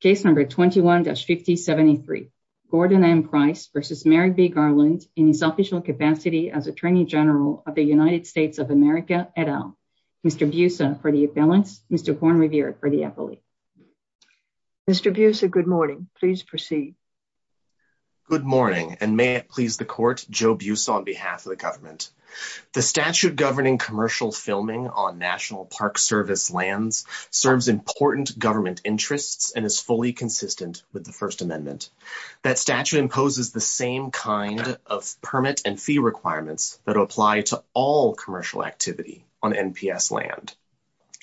Case number 21-5073. Gordon M. Price versus Merrick B. Garland in his official capacity as Attorney General of the United States of America et al. Mr. Busa for the appellants, Mr. Horne-Revere for the appellate. Mr. Busa, good morning. Please proceed. Good morning and may it please the court, Joe Busa on behalf of the government. The statute governing commercial filming on National Park Service lands serves important government interests and is fully consistent with the First Amendment. That statute imposes the same kind of permit and fee requirements that apply to all commercial activity on NPS land.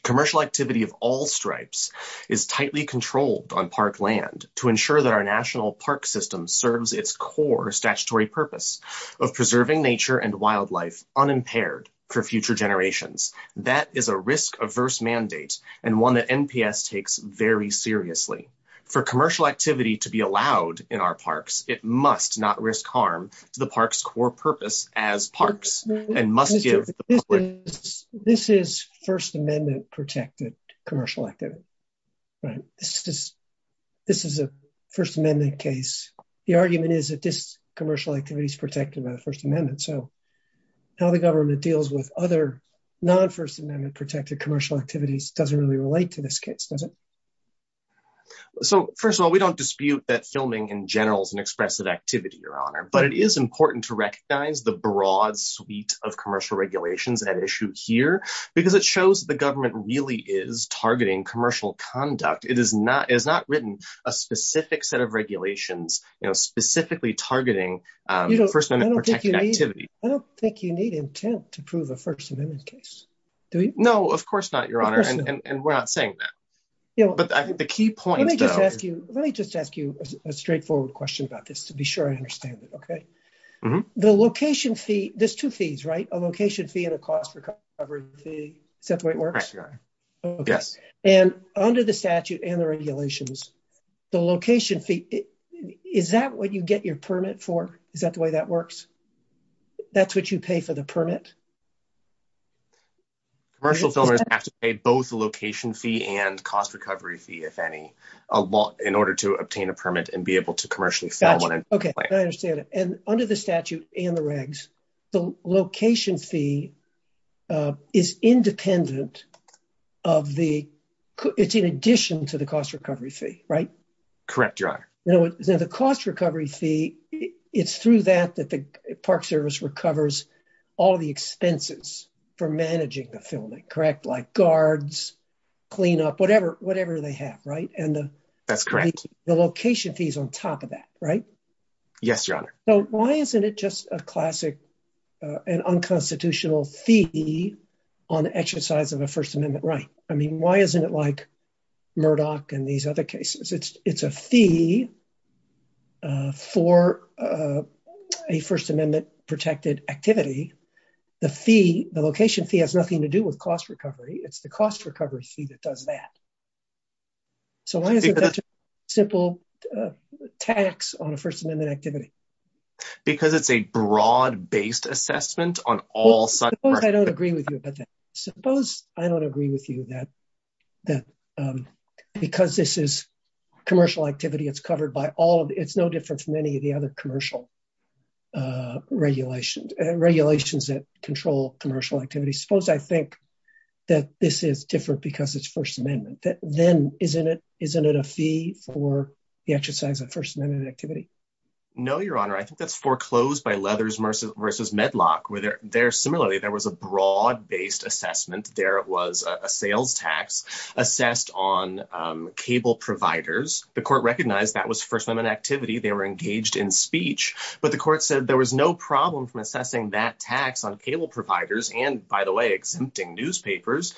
Commercial activity of all stripes is tightly controlled on park land to ensure that our national park system serves its core statutory purpose of preserving nature and wildlife unimpaired for future generations. That is a risk-averse mandate and one that NPS takes very seriously. For commercial activity to be allowed in our parks, it must not risk harm to the park's core purpose as parks and must give... This is First Amendment protected commercial activity, right? This is a First Amendment case. The argument is that this commercial activity is protected by the First Amendment, so how the government deals with other non-First Amendment protected commercial activities doesn't really relate to this case, does it? So, first of all, we don't dispute that filming in general is an expressive activity, Your Honor, but it is important to recognize the broad suite of commercial regulations at issue here because it shows the government really is targeting commercial conduct. It is not written a specific set of regulations specifically targeting First Amendment protected activity. I don't think you need intent to prove a First Amendment case, do you? No, of course not, Your Honor, and we're not saying that. But I think the key point... Let me just ask you a straightforward question about this to be sure I understand it, okay? The location fee... There's two fees, right? A location fee and a cost recovery fee. Is that what you get your permit for? Is that the way that works? That's what you pay for the permit? Commercial filmmakers have to pay both the location fee and cost recovery fee, if any, in order to obtain a permit and be able to commercially film. Gotcha. Okay, I understand it. And under the statute and the regs, the location fee is independent of the... It's in addition to the cost recovery fee, right? Correct, Your Honor. Now, the cost recovery fee, it's through that that the Park Service recovers all the expenses for managing the filming, correct? Like guards, cleanup, whatever they have, right? That's correct. The location fee is on top of that, right? Yes, Your Honor. So why isn't it just a classic and unconstitutional fee on the exercise of a First Amendment right? I mean, why isn't it like Murdoch and these other cases? It's a fee for a First Amendment protected activity. The fee, the location fee has nothing to do with cost recovery. It's the cost recovery fee that does that. So why isn't that a simple tax on a First Amendment activity? Because it's a broad-based assessment on all sides. Suppose I don't agree with you about that. Suppose I don't agree with you that because this is commercial activity, it's covered by all of... It's no different from any of the other commercial regulations that control commercial activities. Suppose I think that this is different because it's First Amendment. Then isn't it a fee for the exercise of First Amendment? No, Your Honor. I think that's foreclosed by Leathers versus Medlock. Similarly, there was a broad-based assessment. There was a sales tax assessed on cable providers. The court recognized that was First Amendment activity. They were engaged in speech, but the court said there was no problem from assessing that tax on cable providers and, by the way, exempting newspapers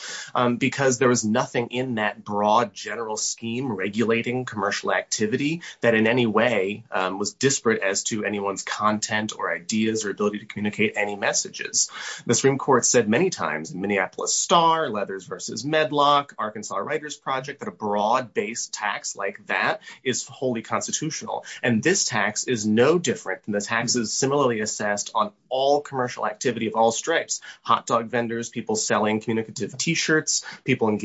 because there was nothing in that broad general scheme regulating commercial activity that in any way was disparate as to anyone's content or ideas or ability to communicate any messages. The Supreme Court said many times in Minneapolis Star, Leathers versus Medlock, Arkansas Writers Project, that a broad-based tax like that is wholly constitutional. And this tax is no different than the taxes similarly assessed on all commercial activity of all stripes. Hot dog vendors, people selling communicative T-shirts, people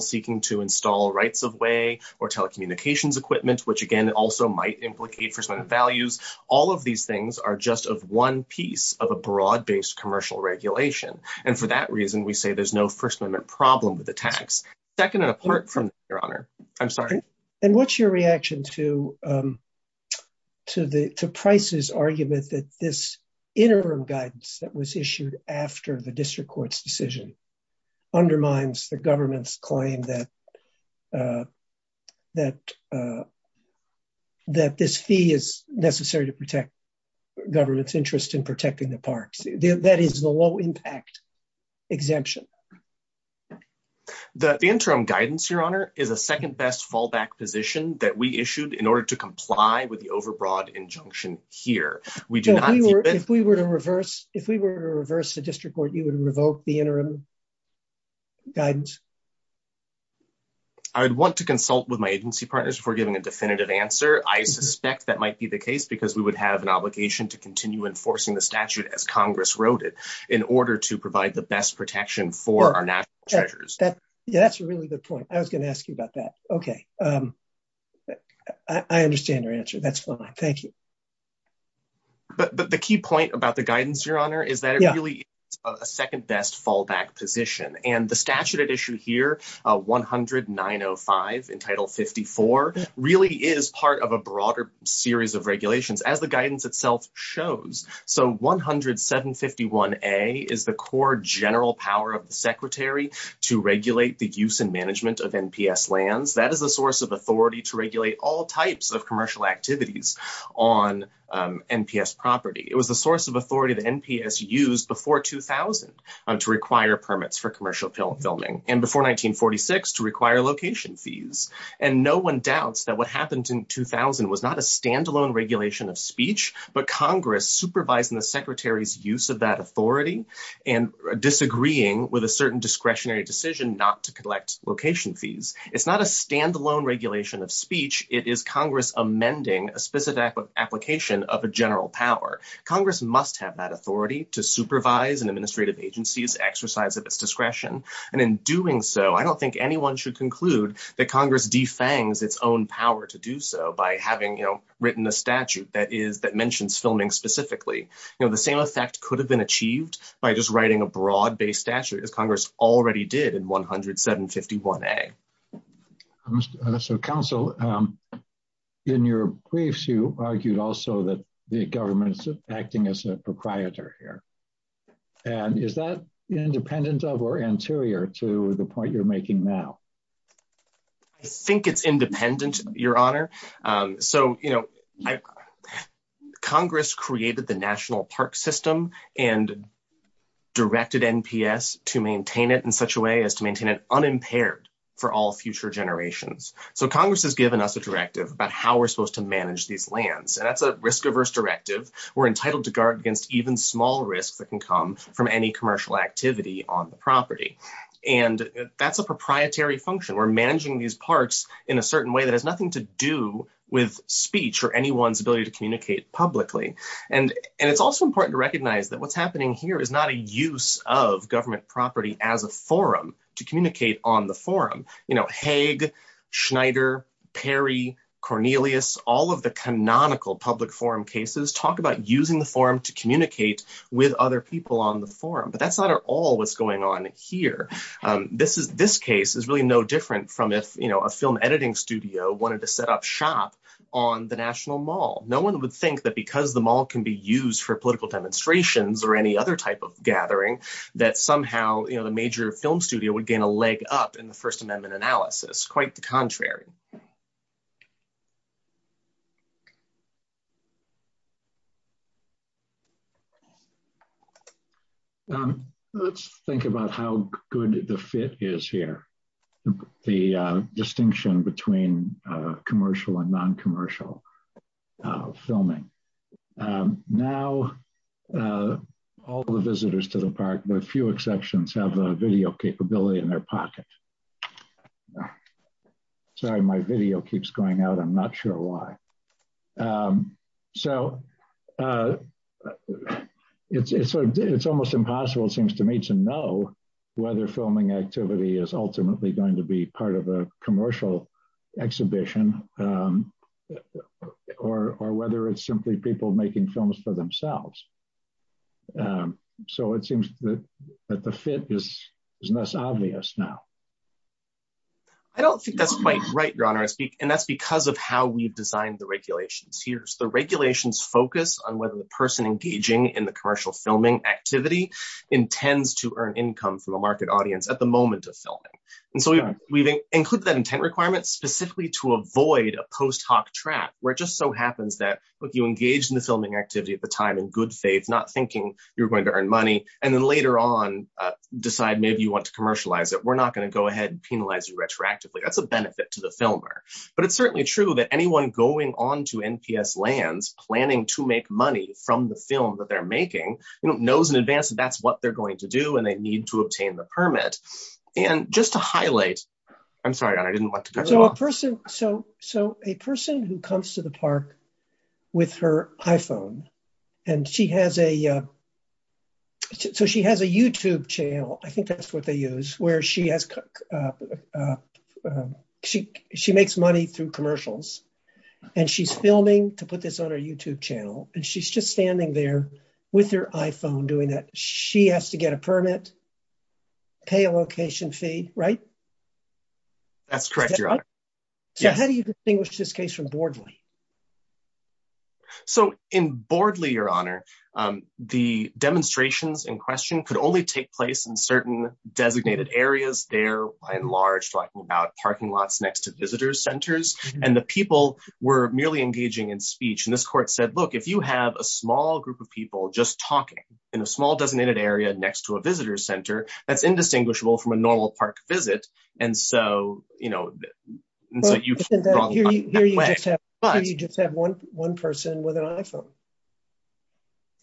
seeking to install rights-of-way or telecommunications equipment, which, again, also might implicate First Amendment values. All of these things are just of one piece of a broad-based commercial regulation. And for that reason, we say there's no First Amendment problem with the tax. Second and apart from that, Your Honor. I'm sorry. And what's your reaction to Price's argument that this interim guidance that was issued after the district court's decision undermines the government's claim that this fee is necessary to protect government's interest in protecting the parks? That is the low-impact exemption. The interim guidance, Your Honor, is a second-best fallback position that we issued in order to comply with the overbroad injunction here. We do not— If we were to reverse the district court, you would revoke the interim guidance? I would want to consult with my agency partners before giving a definitive answer. I suspect that might be the case because we would have an obligation to continue enforcing the statute, as Congress wrote it, in order to provide the best protection for our national treasures. Yeah, that's a really good point. I was going to ask you about that. Okay. I understand your answer. That's fine. Thank you. But the key point about the guidance, Your Honor, is that it really is a second-best fallback position. And the statute at issue here, 109.05 in Title 54, really is part of a broader series of regulations, as the guidance itself shows. So 107.51a is the core general power of the Secretary to regulate the use and management of NPS lands. That is the source of authority to NPS property. It was the source of authority that NPS used before 2000 to require permits for commercial filming, and before 1946 to require location fees. And no one doubts that what happened in 2000 was not a standalone regulation of speech, but Congress supervising the Secretary's use of that authority and disagreeing with a certain discretionary decision not to collect location fees. It's not a standalone regulation of speech. It is Congress amending a specific application of a general power. Congress must have that authority to supervise and administrative agency's exercise of its discretion. And in doing so, I don't think anyone should conclude that Congress defangs its own power to do so by having written a statute that mentions filming specifically. The same effect could have been achieved by just writing a broad-based statute, as Congress already did in 107.51a. So, Counsel, in your briefs, you argued also that the government is acting as a proprietor here. And is that independent of or anterior to the point you're making now? I think it's independent, Your Honor. So, you know, Congress created the National Park System and directed NPS to maintain it in such a way as to maintain it unimpaired for all future generations. So, Congress has given us a directive about how we're supposed to manage these lands. And that's a risk-averse directive. We're entitled to guard against even small risks that can come from any commercial activity on the property. And that's a proprietary function. We're managing these parks in a certain way that has nothing to do with speech or anyone's ability to communicate publicly. And it's also important to recognize that what's happening here is not a use of government property as a forum to communicate on the forum. You know, Haig, Schneider, Perry, Cornelius, all of the canonical public forum cases talk about using the forum to communicate with other people on the forum. But that's not at all what's going on here. This case is really no different from if, you know, a film editing studio wanted to set up shop on the National Mall. No one would think that because the mall can be used for political demonstrations or any other type of gathering, that somehow, you know, the major film studio would gain a leg up in the First Amendment analysis. Quite the contrary. Let's think about how good the fit is here. The distinction between commercial and non-commercial filming. Now, all the visitors to the park, with few exceptions, have a video capability in their pocket. Sorry, my video keeps going out. I'm not sure why. So it's almost impossible, it seems to me, to know whether filming activity is ultimately going to be part of a commercial exhibition or whether it's simply people making films for themselves. So it seems that the fit is less obvious now. I don't think that's quite right, Your Honor. And that's because of how we've designed the regulations here. The regulations focus on the person engaging in the commercial filming activity intends to earn income from the market audience at the moment of filming. And so we've included that intent requirement specifically to avoid a post hoc trap where it just so happens that, look, you engage in the filming activity at the time in good faith, not thinking you're going to earn money, and then later on decide maybe you want to commercialize it. We're not going to go ahead and penalize you retroactively. That's a benefit to the filmer. But it's certainly true that anyone going on to NPS lands planning to make money from the film that they're making, knows in advance that that's what they're going to do and they need to obtain the permit. And just to highlight, I'm sorry, Your Honor, I didn't want to go off. So a person who comes to the park with her iPhone and she has a YouTube channel, I think that's what they use, where she makes money through commercials and she's filming to put this on her YouTube channel. And she's just standing there with her iPhone doing that. She has to get a permit, pay a location fee, right? That's correct, Your Honor. So how do you distinguish this case from Bordley? So in Bordley, Your Honor, the demonstrations in question could only take place in certain designated areas. They're by and large talking about parking lots next to visitor centers. And the people were merely engaging in speech. And this court said, look, if you have a small group of people just talking in a small designated area next to a visitor center, that's indistinguishable from a normal park visit. And so, you know, so you've gone that way. Here you just have one person with an iPhone.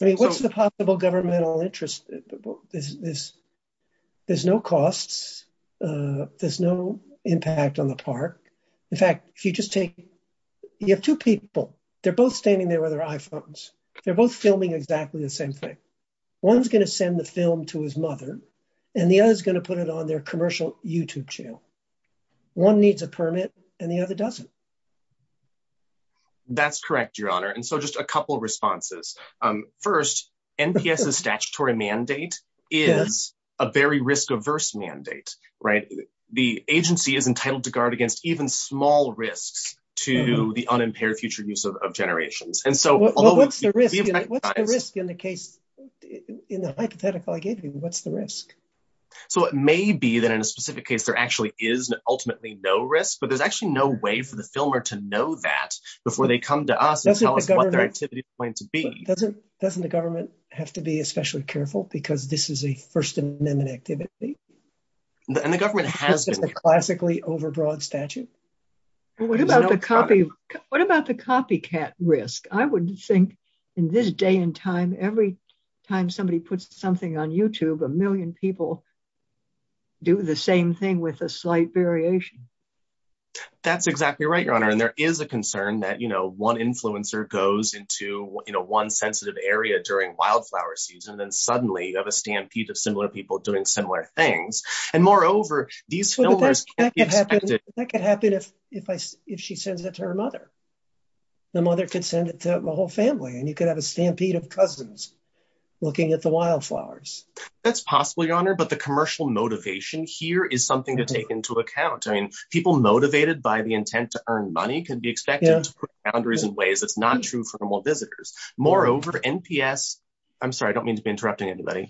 I mean, what's the possible governmental interest? There's no costs. There's no impact on the park. In fact, if you just take, you have two people, they're both standing there with their iPhones. They're both filming exactly the same thing. One's going to send the film to his mother, and the other is going to put it on their commercial YouTube channel. One needs a permit, and the other doesn't. That's correct, Your Honor. And so just a couple responses. First, NPS's statutory mandate is a very risk-averse mandate, right? The agency is entitled to guard against even small risks to the unimpaired future use of generations. And so what's the risk in the hypothetical I gave you? What's the risk? So it may be that in a specific case, there actually is ultimately no risk, but there's actually no way for the filmer to know that before they come to us and tell us what their activity is going to be. Doesn't the government have to be especially careful, because this is a First Amendment activity? And the government has been. This is a classically overbroad statute? What about the copycat risk? I would think in this day and time, every time somebody puts something on YouTube, a million people do the same thing with a slight variation. That's exactly right, Your Honor. And there is a concern that one influencer goes into one sensitive area during wildflower season, and then suddenly you have a stampede of similar people doing similar things. And moreover, these filmers can't be expected- That could happen if she sends it to her mother. The mother could send it to the whole family, and you could have a stampede of cousins looking at the wildflowers. That's possible, Your Honor, but the commercial motivation here is something to take into account. People motivated by the intent to earn money can be expected to put boundaries in ways that's not true for normal visitors. Moreover, NPS- I'm sorry, I don't mean to be interrupting anybody.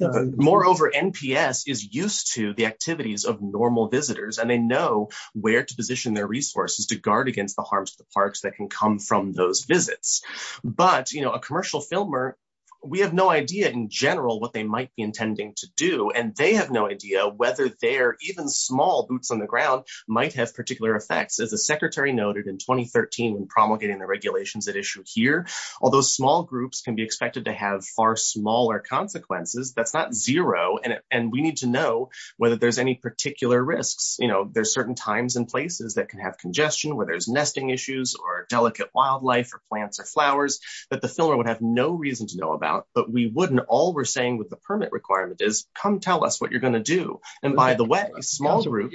Moreover, NPS is used to the activities of normal visitors, and they know where to position their resources to guard against the harms of the parks that can come from those visits. But a commercial filmer, we have no idea in general what they might be intending to do, and they have no idea whether their even small boots on the ground might have particular effects. As the Secretary noted in 2013 when promulgating the regulations at issue here, although small groups can be expected to have far smaller consequences, that's not zero, and we need to know whether there's any particular risks. You know, there's certain times and places that can have congestion where there's nesting issues or delicate wildlife or plants or flowers that the filmer would have no reason to know about, but we wouldn't. All we're saying with the permit requirement is, come tell us what you're going to do, and by the way, small groups-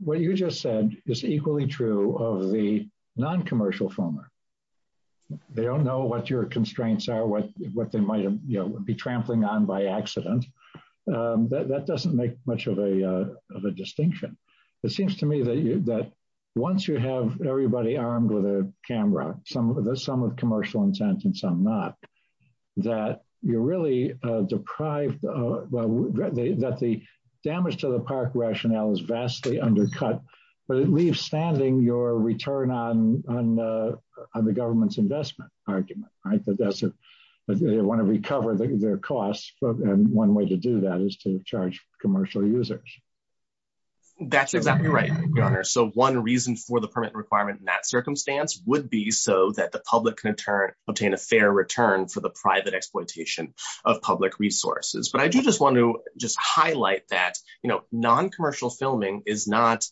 What you just said is equally true of the non-commercial filmer. They don't know what your constraints are, what they might be trampling on by accident. That doesn't make much of a distinction. It seems to me that once you have everybody armed with a camera, some with commercial intent and some not, that you're really deprived of- that the damage to the park rationale is vastly undercut, but it leaves standing your return on the government's investment argument, right? That they want to recover their costs, but one way to do that is to charge commercial users. That's exactly right, Your Honor. So one reason for the permit requirement in that circumstance would be so that the public can obtain a fair return for the private exploitation of public resources, but I do just want to just highlight that non-commercial filming is not-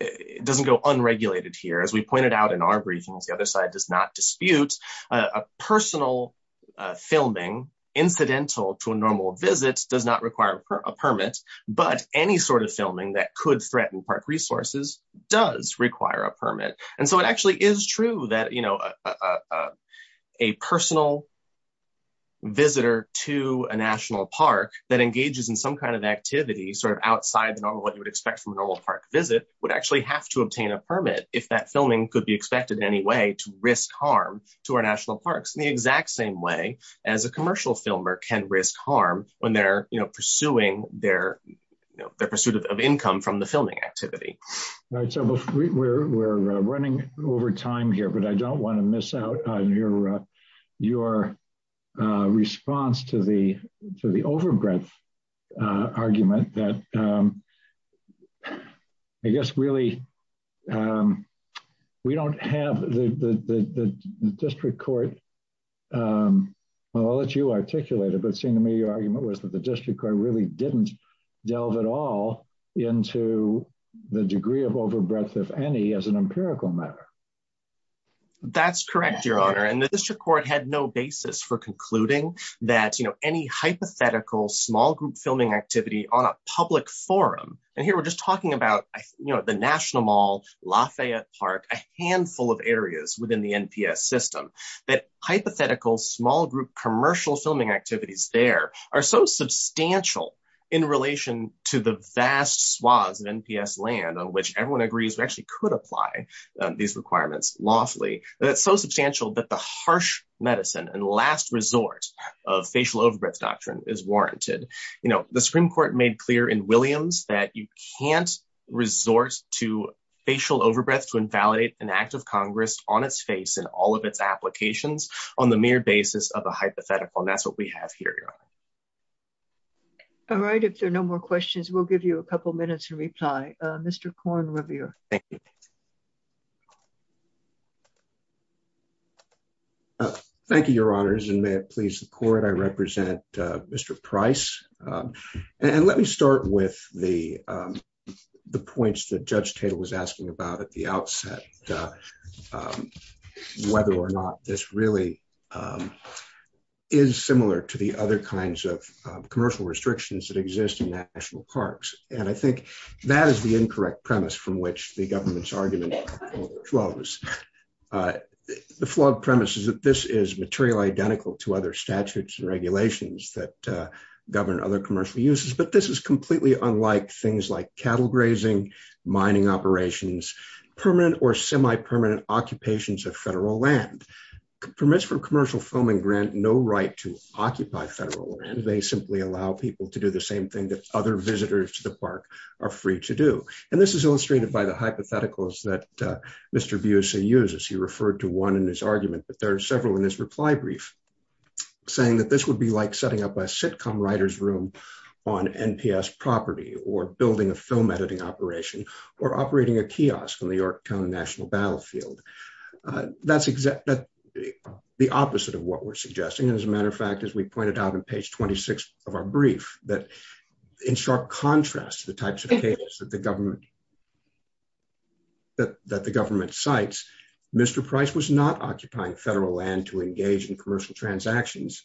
it doesn't go unregulated here. As we pointed out in our briefings, the other side does not dispute a personal filming, incidental to a normal visit, does not require a permit, but any sort of filming that could threaten park resources does require a permit. And so it actually is true that a personal visitor to a national park that engages in some kind of activity sort of outside of what you would expect from a normal park visit would actually have to obtain a permit if that filming could be expected in any way to risk harm to our national parks, in the exact same way as a commercial filmer can risk harm when they're pursuing their pursuit of income from the filming activity. All right, so we're running over time here, but I don't want to miss out on your response to the overbreadth argument that, I guess, really, we don't have the district court- well, I'll let you articulate it, was that the district court really didn't delve at all into the degree of overbreadth, if any, as an empirical matter. That's correct, Your Honor, and the district court had no basis for concluding that, you know, any hypothetical small group filming activity on a public forum- and here we're just talking about, you know, the National Mall, Lafayette Park, a handful of areas within the NPS system- that hypothetical small group commercial filming activities there are so substantial in relation to the vast swaths of NPS land on which everyone agrees we actually could apply these requirements lawfully. That's so substantial that the harsh medicine and last resort of facial overbreath doctrine is warranted. You know, the Supreme Court made clear in Williams that you can't resort to facial overbreath to invalidate an act of Congress on its face in all of its applications on the mere basis of a hypothetical, and that's what we have here, Your Honor. All right, if there are no more questions, we'll give you a couple minutes to reply. Mr. Korn Revere. Thank you. Thank you, Your Honors, and may it please the court, I represent Mr. Price, and let me start with the points that Judge Tatel was asking about at the outset, whether or not this really is similar to the other kinds of commercial restrictions that exist in national parks, and I think that is the incorrect premise from which the government's argument flows. The flawed premise is that this is material identical to other statutes and regulations that completely unlike things like cattle grazing, mining operations, permanent or semi-permanent occupations of federal land. Permits for commercial filming grant no right to occupy federal land. They simply allow people to do the same thing that other visitors to the park are free to do, and this is illustrated by the hypotheticals that Mr. Busey uses. He referred to one in his argument, but there are several in his reply brief, saying that this would be like setting up a sitcom writer's room on NPS property, or building a film editing operation, or operating a kiosk on the Yorktown National Battlefield. That's the opposite of what we're suggesting, and as a matter of fact, as we pointed out on page 26 of our brief, that in sharp contrast to the types of cases that the government cites, Mr. Price was not occupying federal land to engage in commercial transactions,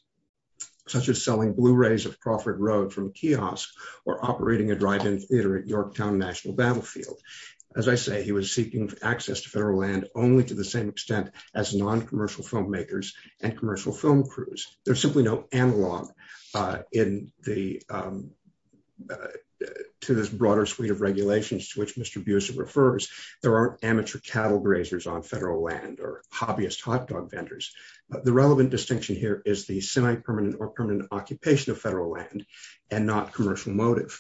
such as selling blu-rays of Crawford Road from kiosks, or operating a drive-in theater at Yorktown National Battlefield. As I say, he was seeking access to federal land only to the same extent as non-commercial filmmakers and commercial film crews. There's simply no analog in the, to this broader suite of regulations to which Mr. Busey refers. There aren't amateur cattle grazers on federal land, or hobbyist hot dog vendors. The relevant distinction here is the semi-permanent or permanent occupation of federal land, and not commercial motive.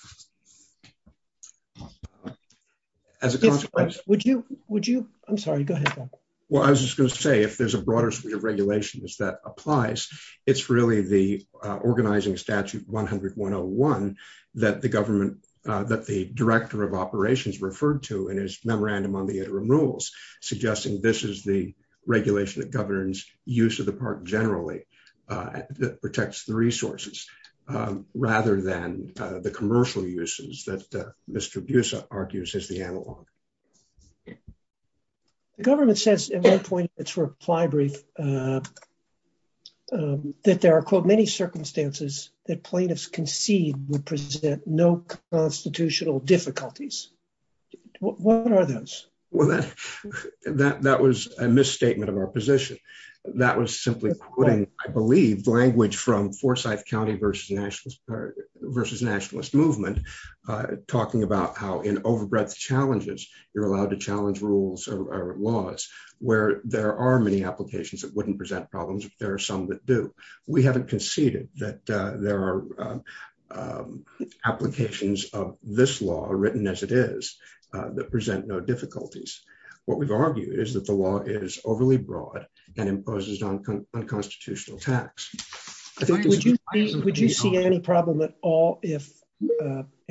As a consequence, Would you, would you, I'm sorry, go ahead. Well, I was just going to say, if there's a broader suite of regulations that applies, it's really the organizing statute 100-101 that the government, that the director of operations referred to in his memorandum on the interim rules, suggesting this is the regulation that governs use of the park generally, that protects the resources, rather than the commercial uses that Mr. Busey argues is the analog. The government says, at one point in its reply brief, that there are, quote, many circumstances that plaintiffs concede would present no constitutional difficulties. What are those? Well, that, that, that was a misstatement of our position. That was simply putting, I believe, language from Forsyth County versus nationalist movement, talking about how in overbreadth challenges, you're allowed to challenge rules or laws, where there are many applications that wouldn't present problems, but there are some that do. We haven't conceded that there are applications of this law written as it is, that present no difficulties. What we've argued is that the law is overly broad, and imposes on unconstitutional tax. Would you see any problem at all if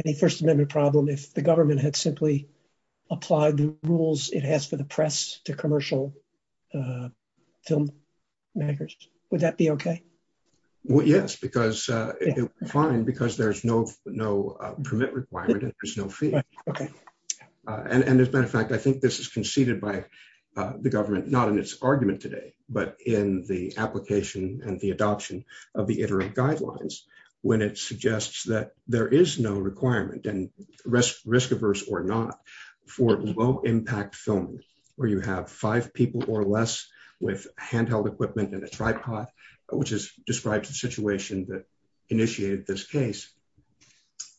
any First Amendment problem if the government had simply applied the rules it has for the press to commercial film makers? Would that be okay? Well, yes, because it would be fine, because there's no, no permit requirement, and there's no fee. And as a matter of fact, I think this is conceded by the government, not in its argument today, but in the application and the adoption of the interim guidelines, when it suggests that there is no requirement and risk, risk averse or not, for low impact filming, where you have five people or less with handheld equipment and a tripod, which is described the situation that initiated this case.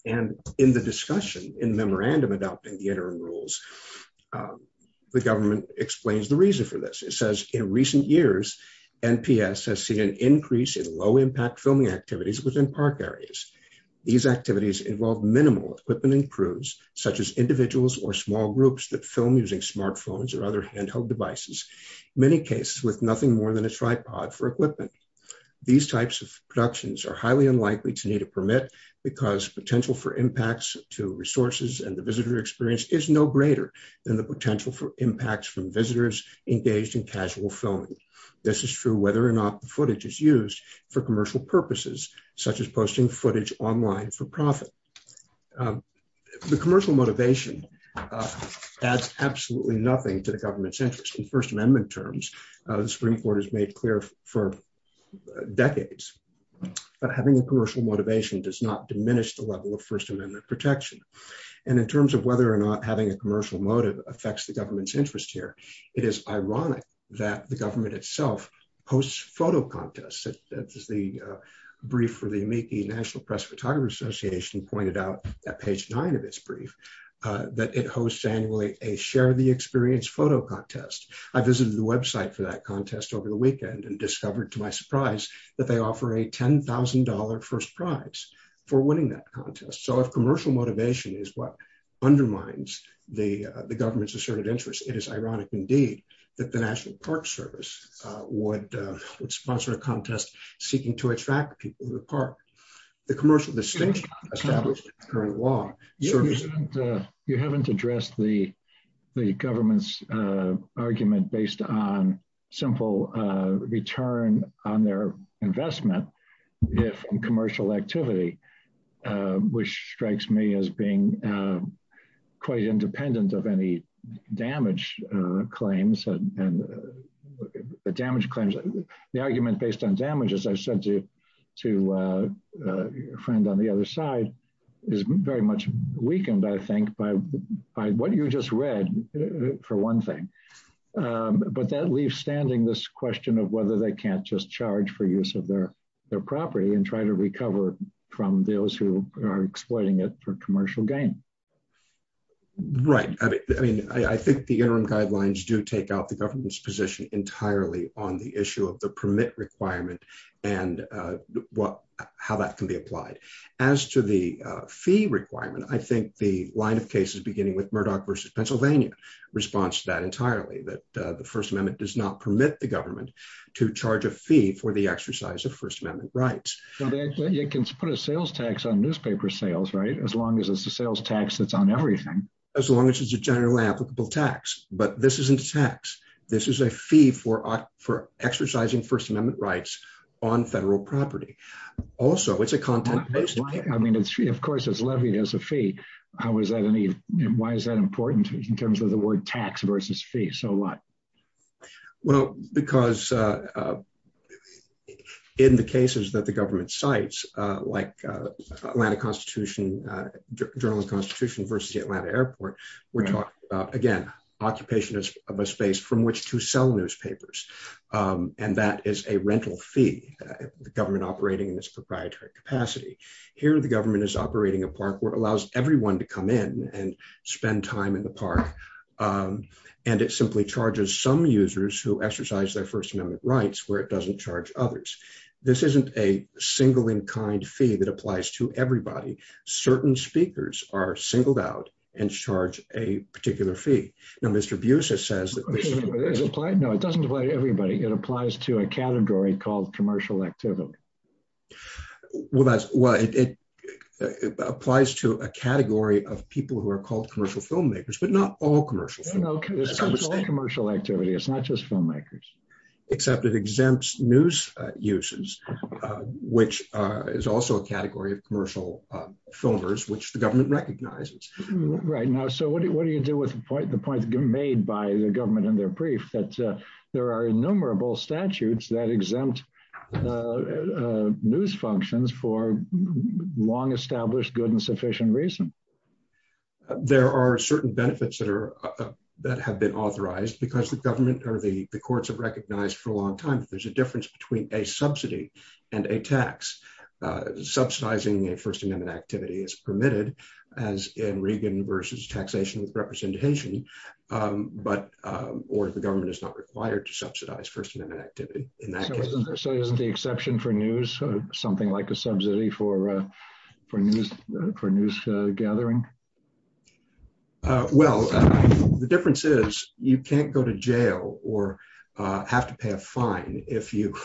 And in the discussion in memorandum adopting the interim rules, the government explains the reason for this. It says in recent years, NPS has seen an increase in low impact filming activities within park areas. These activities involve minimal equipment and crews, such as individuals or small groups that film using smartphones or other handheld devices, many cases with nothing more than a tripod for equipment. These types of productions are highly unlikely to need a permit, because potential for impacts to resources and the visitor experience is no greater than the potential for impacts from visitors engaged in casual filming. This is true whether or not the footage is used for commercial purposes, such as posting footage online for profit. The commercial motivation adds absolutely nothing to the government's interest. In First Amendment terms, the Supreme Court has made clear for decades, that having a commercial motivation does not diminish the level of First Amendment protection. And in terms of whether or not having a commercial motive affects the government's interest here, it is ironic that the government itself posts photo contests, as the brief for the Amici National Press Photographer Association pointed out at page nine of its brief, that it hosts annually a share the experience photo contest. I visited the website for that contest over the weekend and discovered to my surprise, that they offer a $10,000 first prize for winning that contest. So if commercial motivation is what undermines the government's asserted interest, it is ironic indeed, that the National Park Service would sponsor a contest seeking to attract people to the park. The commercial distinction established in current law... You haven't addressed the government's argument based on simple return on their investment, if in commercial activity, which strikes me as being quite independent of any damage claims. The argument based on damage, as I said to a friend on the other side, is very much weakened, I think, by what you just read, for one thing. But that leaves standing this question of whether they can't just charge for use of their property and try to recover from those who are exploiting it for commercial gain. Right. I mean, I think the interim guidelines do take out the government's position entirely on the issue of the permit requirement, and how that can be applied. As to the fee requirement, I think the line of cases beginning with Murdoch versus Pennsylvania, responds to that entirely, that the First Amendment does not permit the government to charge a fee for the exercise of First Amendment rights. You can put a sales tax on newspaper sales, right? As long as it's a everything. As long as it's a generally applicable tax. But this isn't a tax. This is a fee for exercising First Amendment rights on federal property. Also, it's a content-based payment. I mean, of course, it's levied as a fee. Why is that important in terms of the word tax versus fee? So what? Well, because in the cases that the government cites, like Atlanta Constitution, Journal of Constitution versus the Atlanta Airport, we're talking about, again, occupation of a space from which to sell newspapers. And that is a rental fee, the government operating in this proprietary capacity. Here, the government is operating a park where it allows everyone to come in and spend time in the park. And it simply charges some users who exercise their First Amendment rights where it doesn't charge others. This isn't a single-in-kind fee that applies to everybody. Certain speakers are singled out and charge a particular fee. Now, Mr. Busis says that... No, it doesn't apply to everybody. It applies to a category called commercial activity. Well, that's why it applies to a category of people who are called commercial filmmakers, but not all commercial. No, it's all commercial activity. It's not just filmmakers. Except it exempts news uses, which is also a category of commercial filmers, which the government recognizes. Right. Now, so what do you do with the point made by the government and their brief that there are innumerable statutes that exempt news functions for long-established, good, and sufficient reason? There are certain benefits that have been authorized because the government or the government has recognized for a long time that there's a difference between a subsidy and a tax. Subsidizing a First Amendment activity is permitted, as in Reagan versus taxation with representation, or the government is not required to subsidize First Amendment activity in that case. So isn't the exception for news something like a subsidy for news gathering? Well, the difference is you can't go to jail or have to pay a fine if you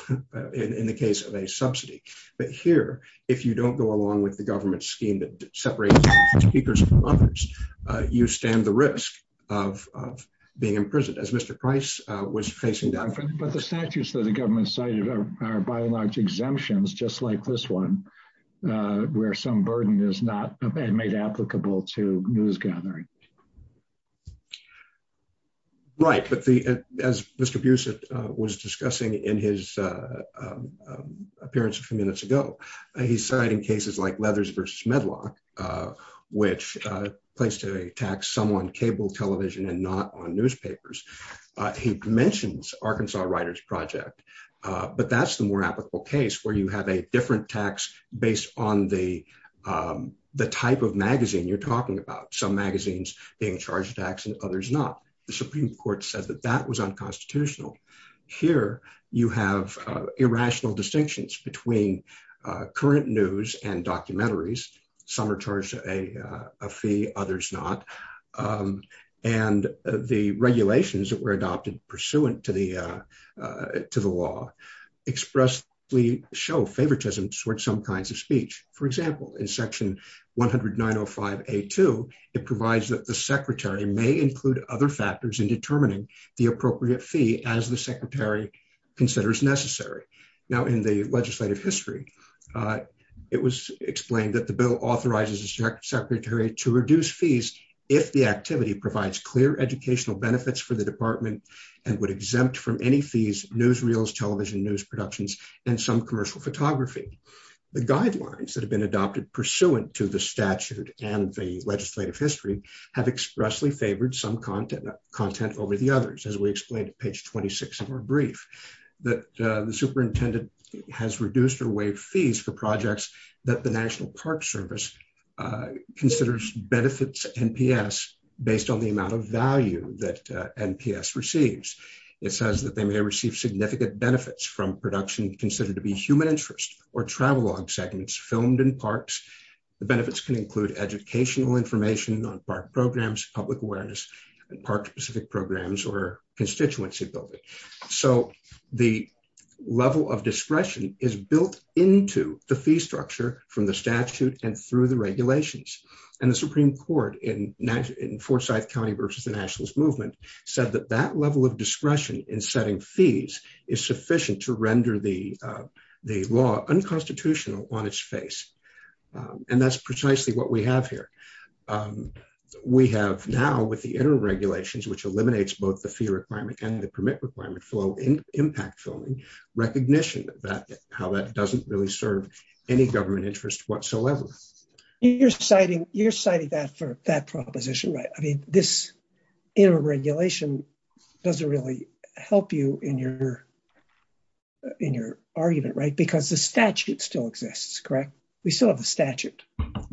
in the case of a subsidy. But here, if you don't go along with the government scheme that separates speakers from others, you stand the risk of being imprisoned, as Mr. Price was facing down. But the statutes that the government cited are by and large exemptions, just like this one, where some burden is not made applicable to news gathering. Right. But as Mr. Buse was discussing in his appearance a few minutes ago, he cited cases like Leathers versus Medlock, which placed a tax sum on cable television and not on newspapers. He mentions Arkansas Writers Project, but that's the more applicable case where you have a different tax based on the type of magazine you're talking about. Some magazines being charged tax and others not. The Supreme Court said that that was unconstitutional. Here, you have irrational distinctions between current news and documentaries. Some are charged a fee, others not. And the regulations that were adopted pursuant to the law expressly show favoritism towards some kinds of speech. For example, in section 10905A2, it provides that the secretary may include other factors in determining the appropriate fee as the secretary considers necessary. Now, in the legislative history, it was explained that the bill authorizes the secretary to reduce fees if the activity provides clear educational benefits for the department and would exempt from any fees newsreels, television news productions, and some commercial photography. The guidelines that have been adopted pursuant to the statute and the legislative history have expressly favored some content over the others, as we explained at page 26 of our brief, that the superintendent has reduced or waived fees for projects that the National Park Service considers benefits NPS based on the amount of value that NPS receives. It says that they may receive significant benefits from production considered to be human interest or travelogue segments filmed in parks. The benefits can include educational information on park programs, public awareness, and park specific programs or constituency building. So, the level of discretion is built into the fee structure from the statute and through the regulations. And the Supreme Court in Forsyth County versus the Nationalist Movement said that level of discretion in setting fees is sufficient to render the law unconstitutional on its face. And that's precisely what we have here. We have now with the interim regulations, which eliminates both the fee requirement and the permit requirement for impact filming, recognition of how that doesn't really serve any government interest whatsoever. You're citing that for that proposition, right? I mean, this interim regulation doesn't really help you in your argument, right? Because the statute still exists, correct? We still have the statute. I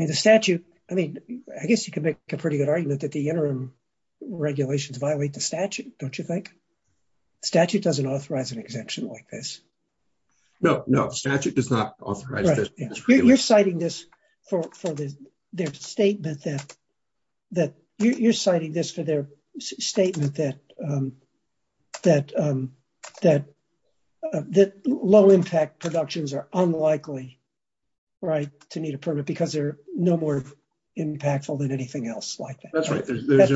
mean, the statute, I mean, I guess you can make a pretty good argument that the interim regulations violate the statute, don't you think? Statute doesn't authorize an exemption like this. No, no statute does not authorize this. You're citing this for their statement that you're citing this for their statement that low impact productions are unlikely, right, to need a permit because they're no more impactful than anything else like that. That's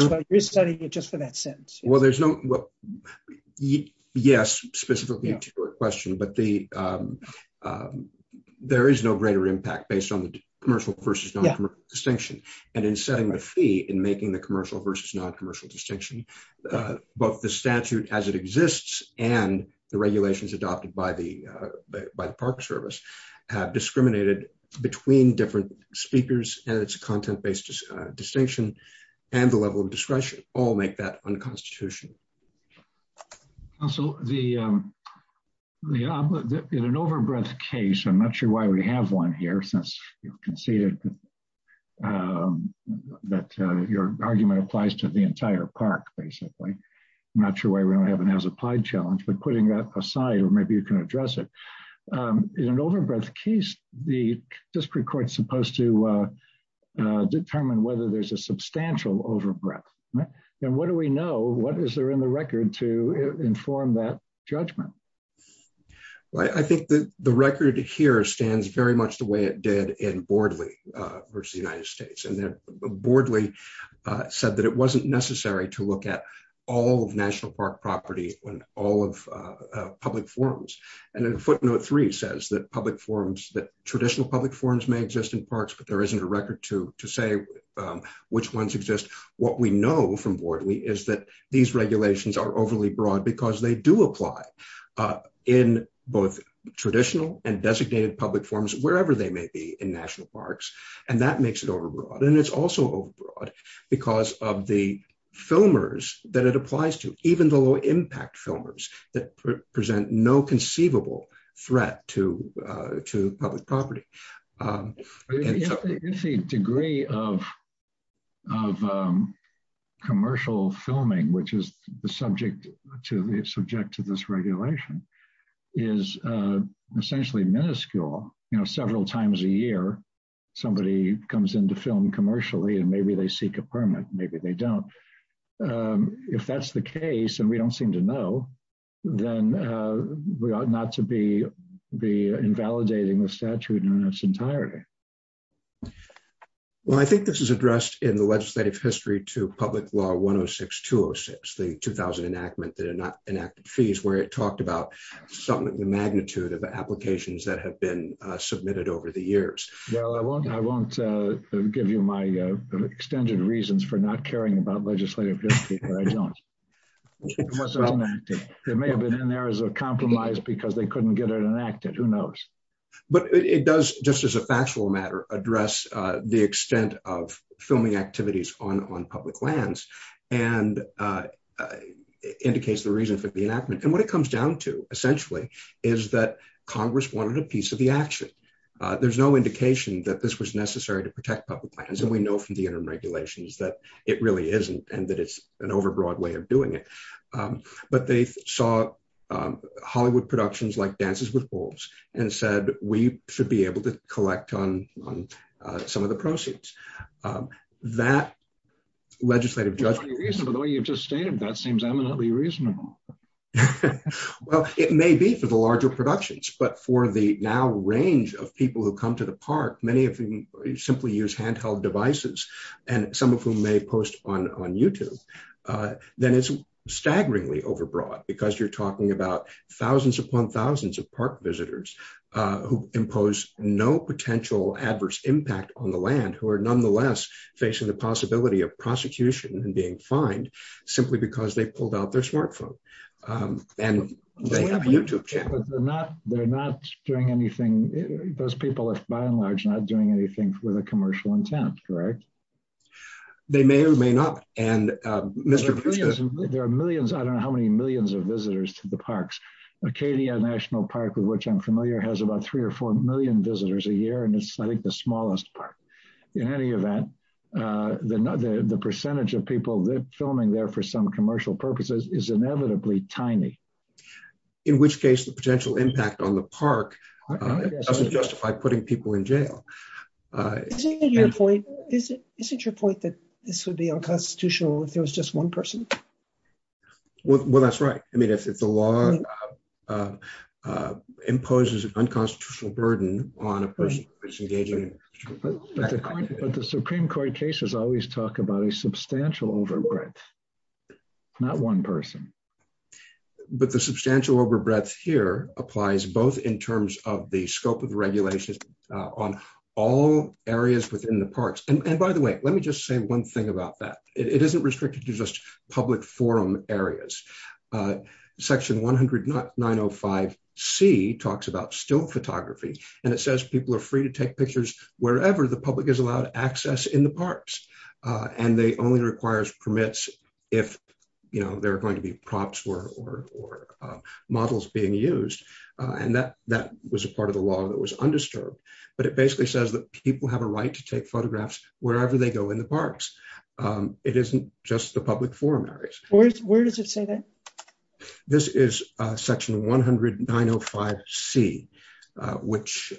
why you're citing it just for that sentence. Well, there's no... Yes, specifically to your question, but there is no greater impact based on the commercial versus non-commercial distinction. And in setting the fee and making the commercial versus non-commercial distinction, both the statute as it exists and the regulations adopted by the park service have discriminated between different speakers and its content-based distinction and the level of discretion all make that unconstitutional. Also, in an overbreadth case, I'm not sure why we have one here since you conceded that your argument applies to the entire park, basically. I'm not sure why we don't have an as-applied challenge, but putting that aside or maybe you can address it. In an overbreadth case, the district court's supposed to determine whether there's a substantial overbreadth. And what do we know? What is there in the record to inform that judgment? Well, I think that the record here stands very much the way it did in Bordley versus the United States. And then Bordley said that it wasn't necessary to look at all of National Park property on all of public forums. And footnote three says that public forums, that traditional public forums may exist in parks, but there isn't a record to say which ones exist. What we know from Bordley is that these regulations are overly broad because they do apply in both traditional and designated public forums, wherever they may be in National Parks. And that makes it overbroad. And it's also overbroad because of the filmers that it applies to, even the low-impact filmers that present no conceivable threat to public property. The degree of commercial filming, which is the subject to this regulation, is essentially minuscule. Several times a year, somebody comes in to film commercially and maybe seek a permit, maybe they don't. If that's the case, and we don't seem to know, then we ought not to be invalidating the statute in its entirety. Well, I think this is addressed in the legislative history to Public Law 106-206, the 2000 enactment that enacted fees where it talked about something of the magnitude of applications that have been submitted over the years. Well, I won't give you my extended reasons for not caring about legislative history, but I don't. It may have been in there as a compromise because they couldn't get it enacted. Who knows? But it does, just as a factual matter, address the extent of filming activities on public lands, and indicates the reason for the enactment. And what it comes down to, essentially, is that Congress wanted a piece of the action. There's no indication that this was necessary to protect public lands, and we know from the interim regulations that it really isn't, and that it's an overbroad way of doing it. But they saw Hollywood productions like Dances with Wolves, and said, we should be able to collect on some of the proceeds. That legislative judgment- Well, by the way you've just stated, that seems eminently reasonable. Well, it may be for the larger productions, but for the now range of people who come to the park, many of whom simply use handheld devices, and some of whom may post on YouTube, then it's staggeringly overbroad because you're talking about thousands upon thousands of park visitors who impose no potential adverse impact on the land, who are nonetheless facing the possibility of prosecution and being fined, simply because they pulled out their smartphone, and they have a YouTube channel. They're not doing anything, those people, by and large, not doing anything with a commercial intent, correct? They may or may not, and Mr. There are millions, I don't know how many millions of visitors to the parks. Acadia National Park, with which I'm familiar, has about three or four million visitors a year, and it's, I think, the smallest park. In any event, the percentage of people filming there for some commercial purposes is inevitably tiny. In which case, the potential impact on the park doesn't justify putting people in jail. Isn't your point that this would be unconstitutional if there was just one person? Well, that's right. I mean, if the law imposes an unconstitutional burden on a person who is engaging in... But the Supreme Court cases always talk about a substantial overbreadth, not one person. But the substantial overbreadth here applies both in terms of the scope of regulations on all areas within the parks. And by the way, let me just say one thing about that. It isn't restricted to just public forum areas. Section 109.05c talks about still photography, and it says people are free to take pictures wherever the public is allowed access in the parks. And they only require permits if there are going to be props or models being used. And that was a part of the law that was undisturbed. But it basically says that people have a right to take photographs wherever they go in the parks. It isn't just the public forum areas. Where does it say that? This is section 109.05c, which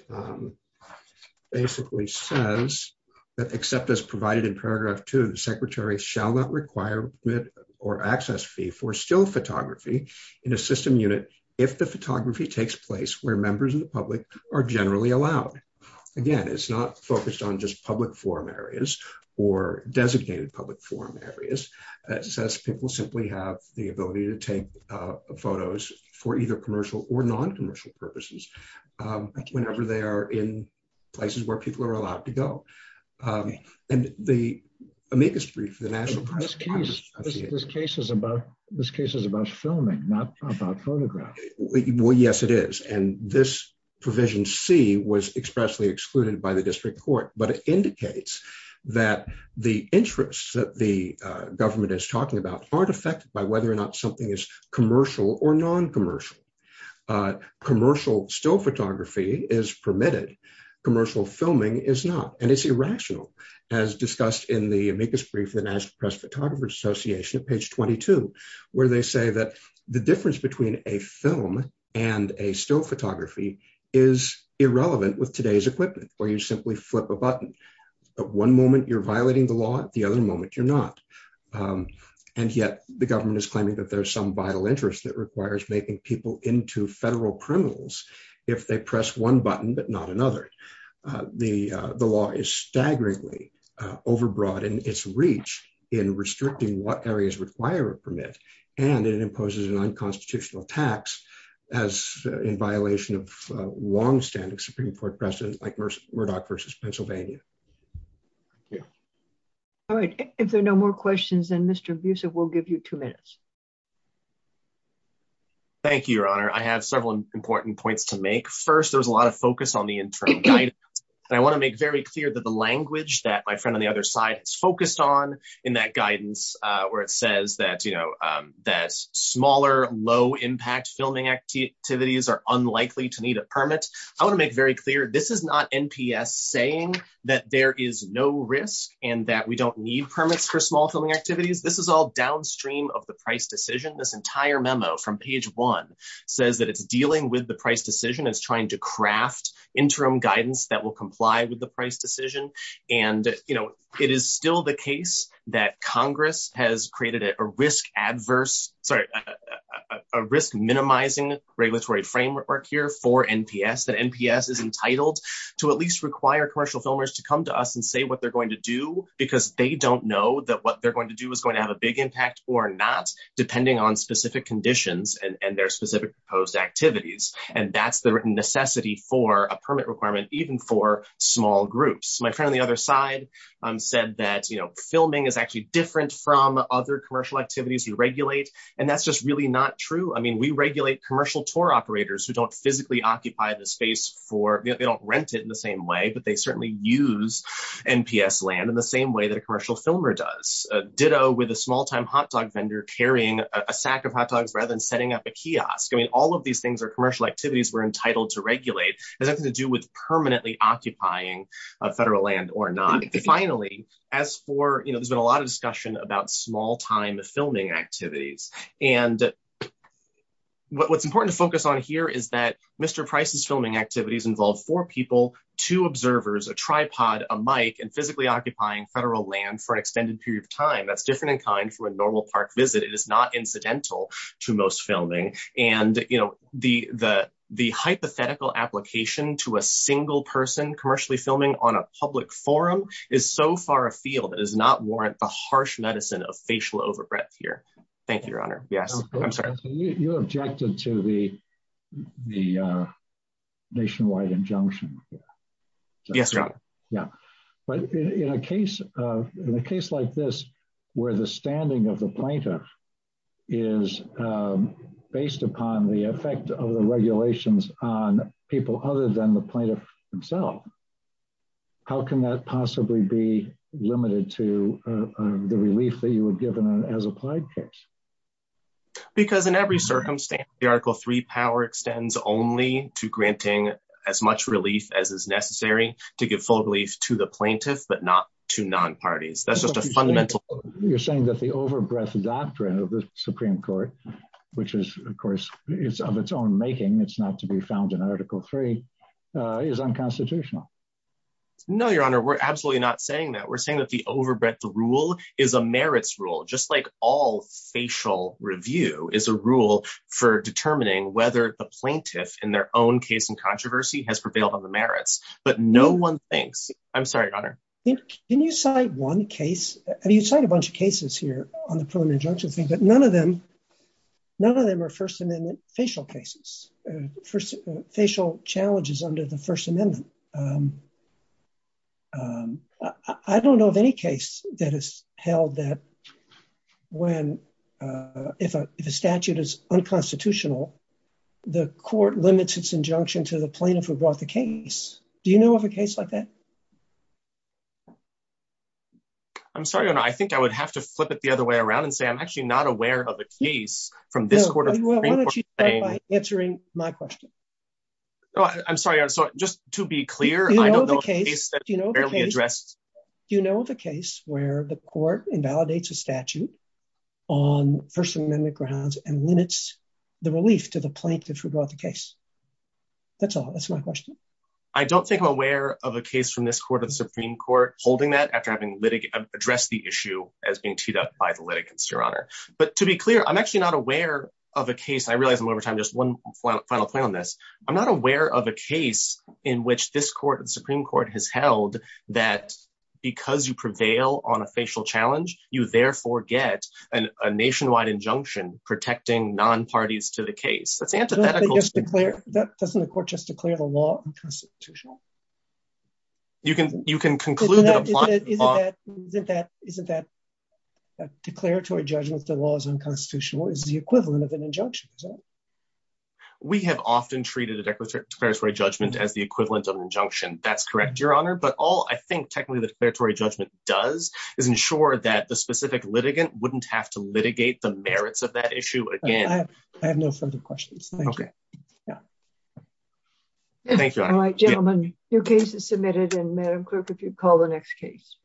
basically says that except as provided in paragraph two, the secretary shall not require permit or access fee for still photography in a system unit if the photography takes place where members of the public are generally allowed. Again, it's not focused on just public forum areas or designated public forum areas. It says people simply have the ability to take photos for either commercial or non-commercial purposes whenever they are in places where people are allowed to go. And the amicus brief, the national press... But this case is about filming, not about photographing. Well, yes, it is. And this provision C was expressly excluded by the district court. But it indicates that the interests that the government is talking about aren't affected by whether or not something is commercial or non-commercial. Commercial still photography is permitted. Commercial filming is not. And it's irrational, as discussed in the amicus brief, the National Press Photographers Association, page 22, where they say that the difference between a film and a still photography is irrelevant with today's equipment, where you simply flip a button. At one moment, you're violating the law. At the other moment, you're not. And yet the government is claiming that there's some vital interest that requires making people into federal criminals if they press one button but not another. The law is staggeringly overbroad in its reach in restricting what areas require a permit. And it imposes an unconstitutional tax as in violation of longstanding Supreme Court precedent, like Murdoch versus Pennsylvania. Yeah. All right. If there are no more questions, then Mr. Busev, we'll give you two minutes. Thank you, Your Honor. I have several important points to make. First, there was a lot of focus on the internal guidance. And I want to make very clear that the language that my friend on the other side has focused on in that guidance, where it says that, you know, that smaller, low-impact filming activities are unlikely to need a permit. I want to make very clear, this is not NPS saying that there is no risk and that we don't need permits for small filming activities. This is all downstream of the price decision. This entire memo from page one says that it's dealing with the price decision. It's trying to craft interim guidance that will comply with the price decision. And, you know, it is still the case that Congress has created a risk-adverse, sorry, a risk-minimizing regulatory framework here for NPS, that NPS is entitled to at least require commercial filmers to come to us and say what they're going to do, because they don't know that what they're going to do is going to have a big impact or not, depending on specific conditions and their specific proposed activities. And that's the necessity for a permit requirement, even for small groups. My friend on the other side said that, you know, filming is actually different from other commercial activities we regulate, and that's just really not true. I mean, we regulate commercial tour operators who don't physically occupy the space for, they don't rent it in the same way, but they certainly use NPS land in the same way that a commercial filmer does. Ditto with a small-time hot dog vendor carrying a sack of hot dogs rather than setting up a kiosk. I mean, all of these things are commercial activities we're entitled to regulate. It has nothing to do with permanently occupying federal land or not. Finally, as for, you know, there's been a lot of discussion about small-time filming activities. And what's important to focus on here is that Mr. Price's filming activities involve four people, two observers, a tripod, a mic, and physically occupying federal land for an extended period of time. That's different in kind from a normal park visit. It is not incidental to most filming. And, you know, the hypothetical application to a single person commercially filming on a public forum is so far afield that it does not warrant the harsh medicine of facial overbreath here. Thank you, Your Honor. Yes, I'm sorry. So you objected to the nationwide injunction? Yes, Your Honor. Yeah. But in a case like this, where the standing of the plaintiff is based upon the effect of the regulations on people other than the plaintiff himself, how can that possibly be limited to the relief that you would give in an as-applied case? Because in every circumstance, the Article III power extends only to granting as much relief as is necessary to give full relief to the plaintiff, but not to non-parties. That's just a fundamental... You're saying that the overbreath doctrine of the Supreme Court, which is, of course, is of its own making, it's not to be found in Article III, is unconstitutional. No, Your Honor, we're absolutely not saying that. We're saying that the overbreath rule is a merits rule, just like all facial review is a rule for determining whether the plaintiff in their own case and controversy has prevailed on the merits. But no one thinks... I'm sorry, Your Honor. Can you cite one case? You cite a bunch of cases here on the preliminary injunction thing, but none of them are First Amendment facial cases, facial challenges under the First Amendment. I don't know of any case that has held that if a statute is unconstitutional, the court limits its injunction to the plaintiff who brought the case. Do you know of a case like that? I'm sorry, Your Honor, I think I would have to flip it the other way around and say, I'm actually not aware of a case from this Court of Supreme Court saying... No, why don't you start by answering my question? I'm sorry, Your Honor, so just to be clear, I don't know of a case that's barely addressed. Do you know of a case where the court invalidates a statute on First Amendment grounds and limits the relief to the plaintiff who brought the case? That's all, that's my question. I don't think I'm aware of a case from this Court of Supreme Court holding that after having addressed the issue as being teed up by the litigants, Your Honor. But to be clear, I'm actually not aware of a case, I realize I'm over time, just one final point on this. I'm not aware of a case in which this Court of the Supreme Court has held that because you prevail on a facial challenge, you therefore get a nationwide injunction protecting non-parties to the case. That's antithetical to the court. Doesn't the court just declare the law unconstitutional? You can conclude that... Isn't that declaratory judgment that the law is unconstitutional is the equivalent of an injunction? We have often treated a declaratory judgment as the equivalent of an injunction. That's correct, Your Honor. But all I think technically the declaratory judgment does is ensure that the specific litigant wouldn't have to litigate the merits of that issue again. Okay. Thank you, Your Honor. All right, gentlemen, your case is submitted. And Madam Clerk, if you'd call the next case.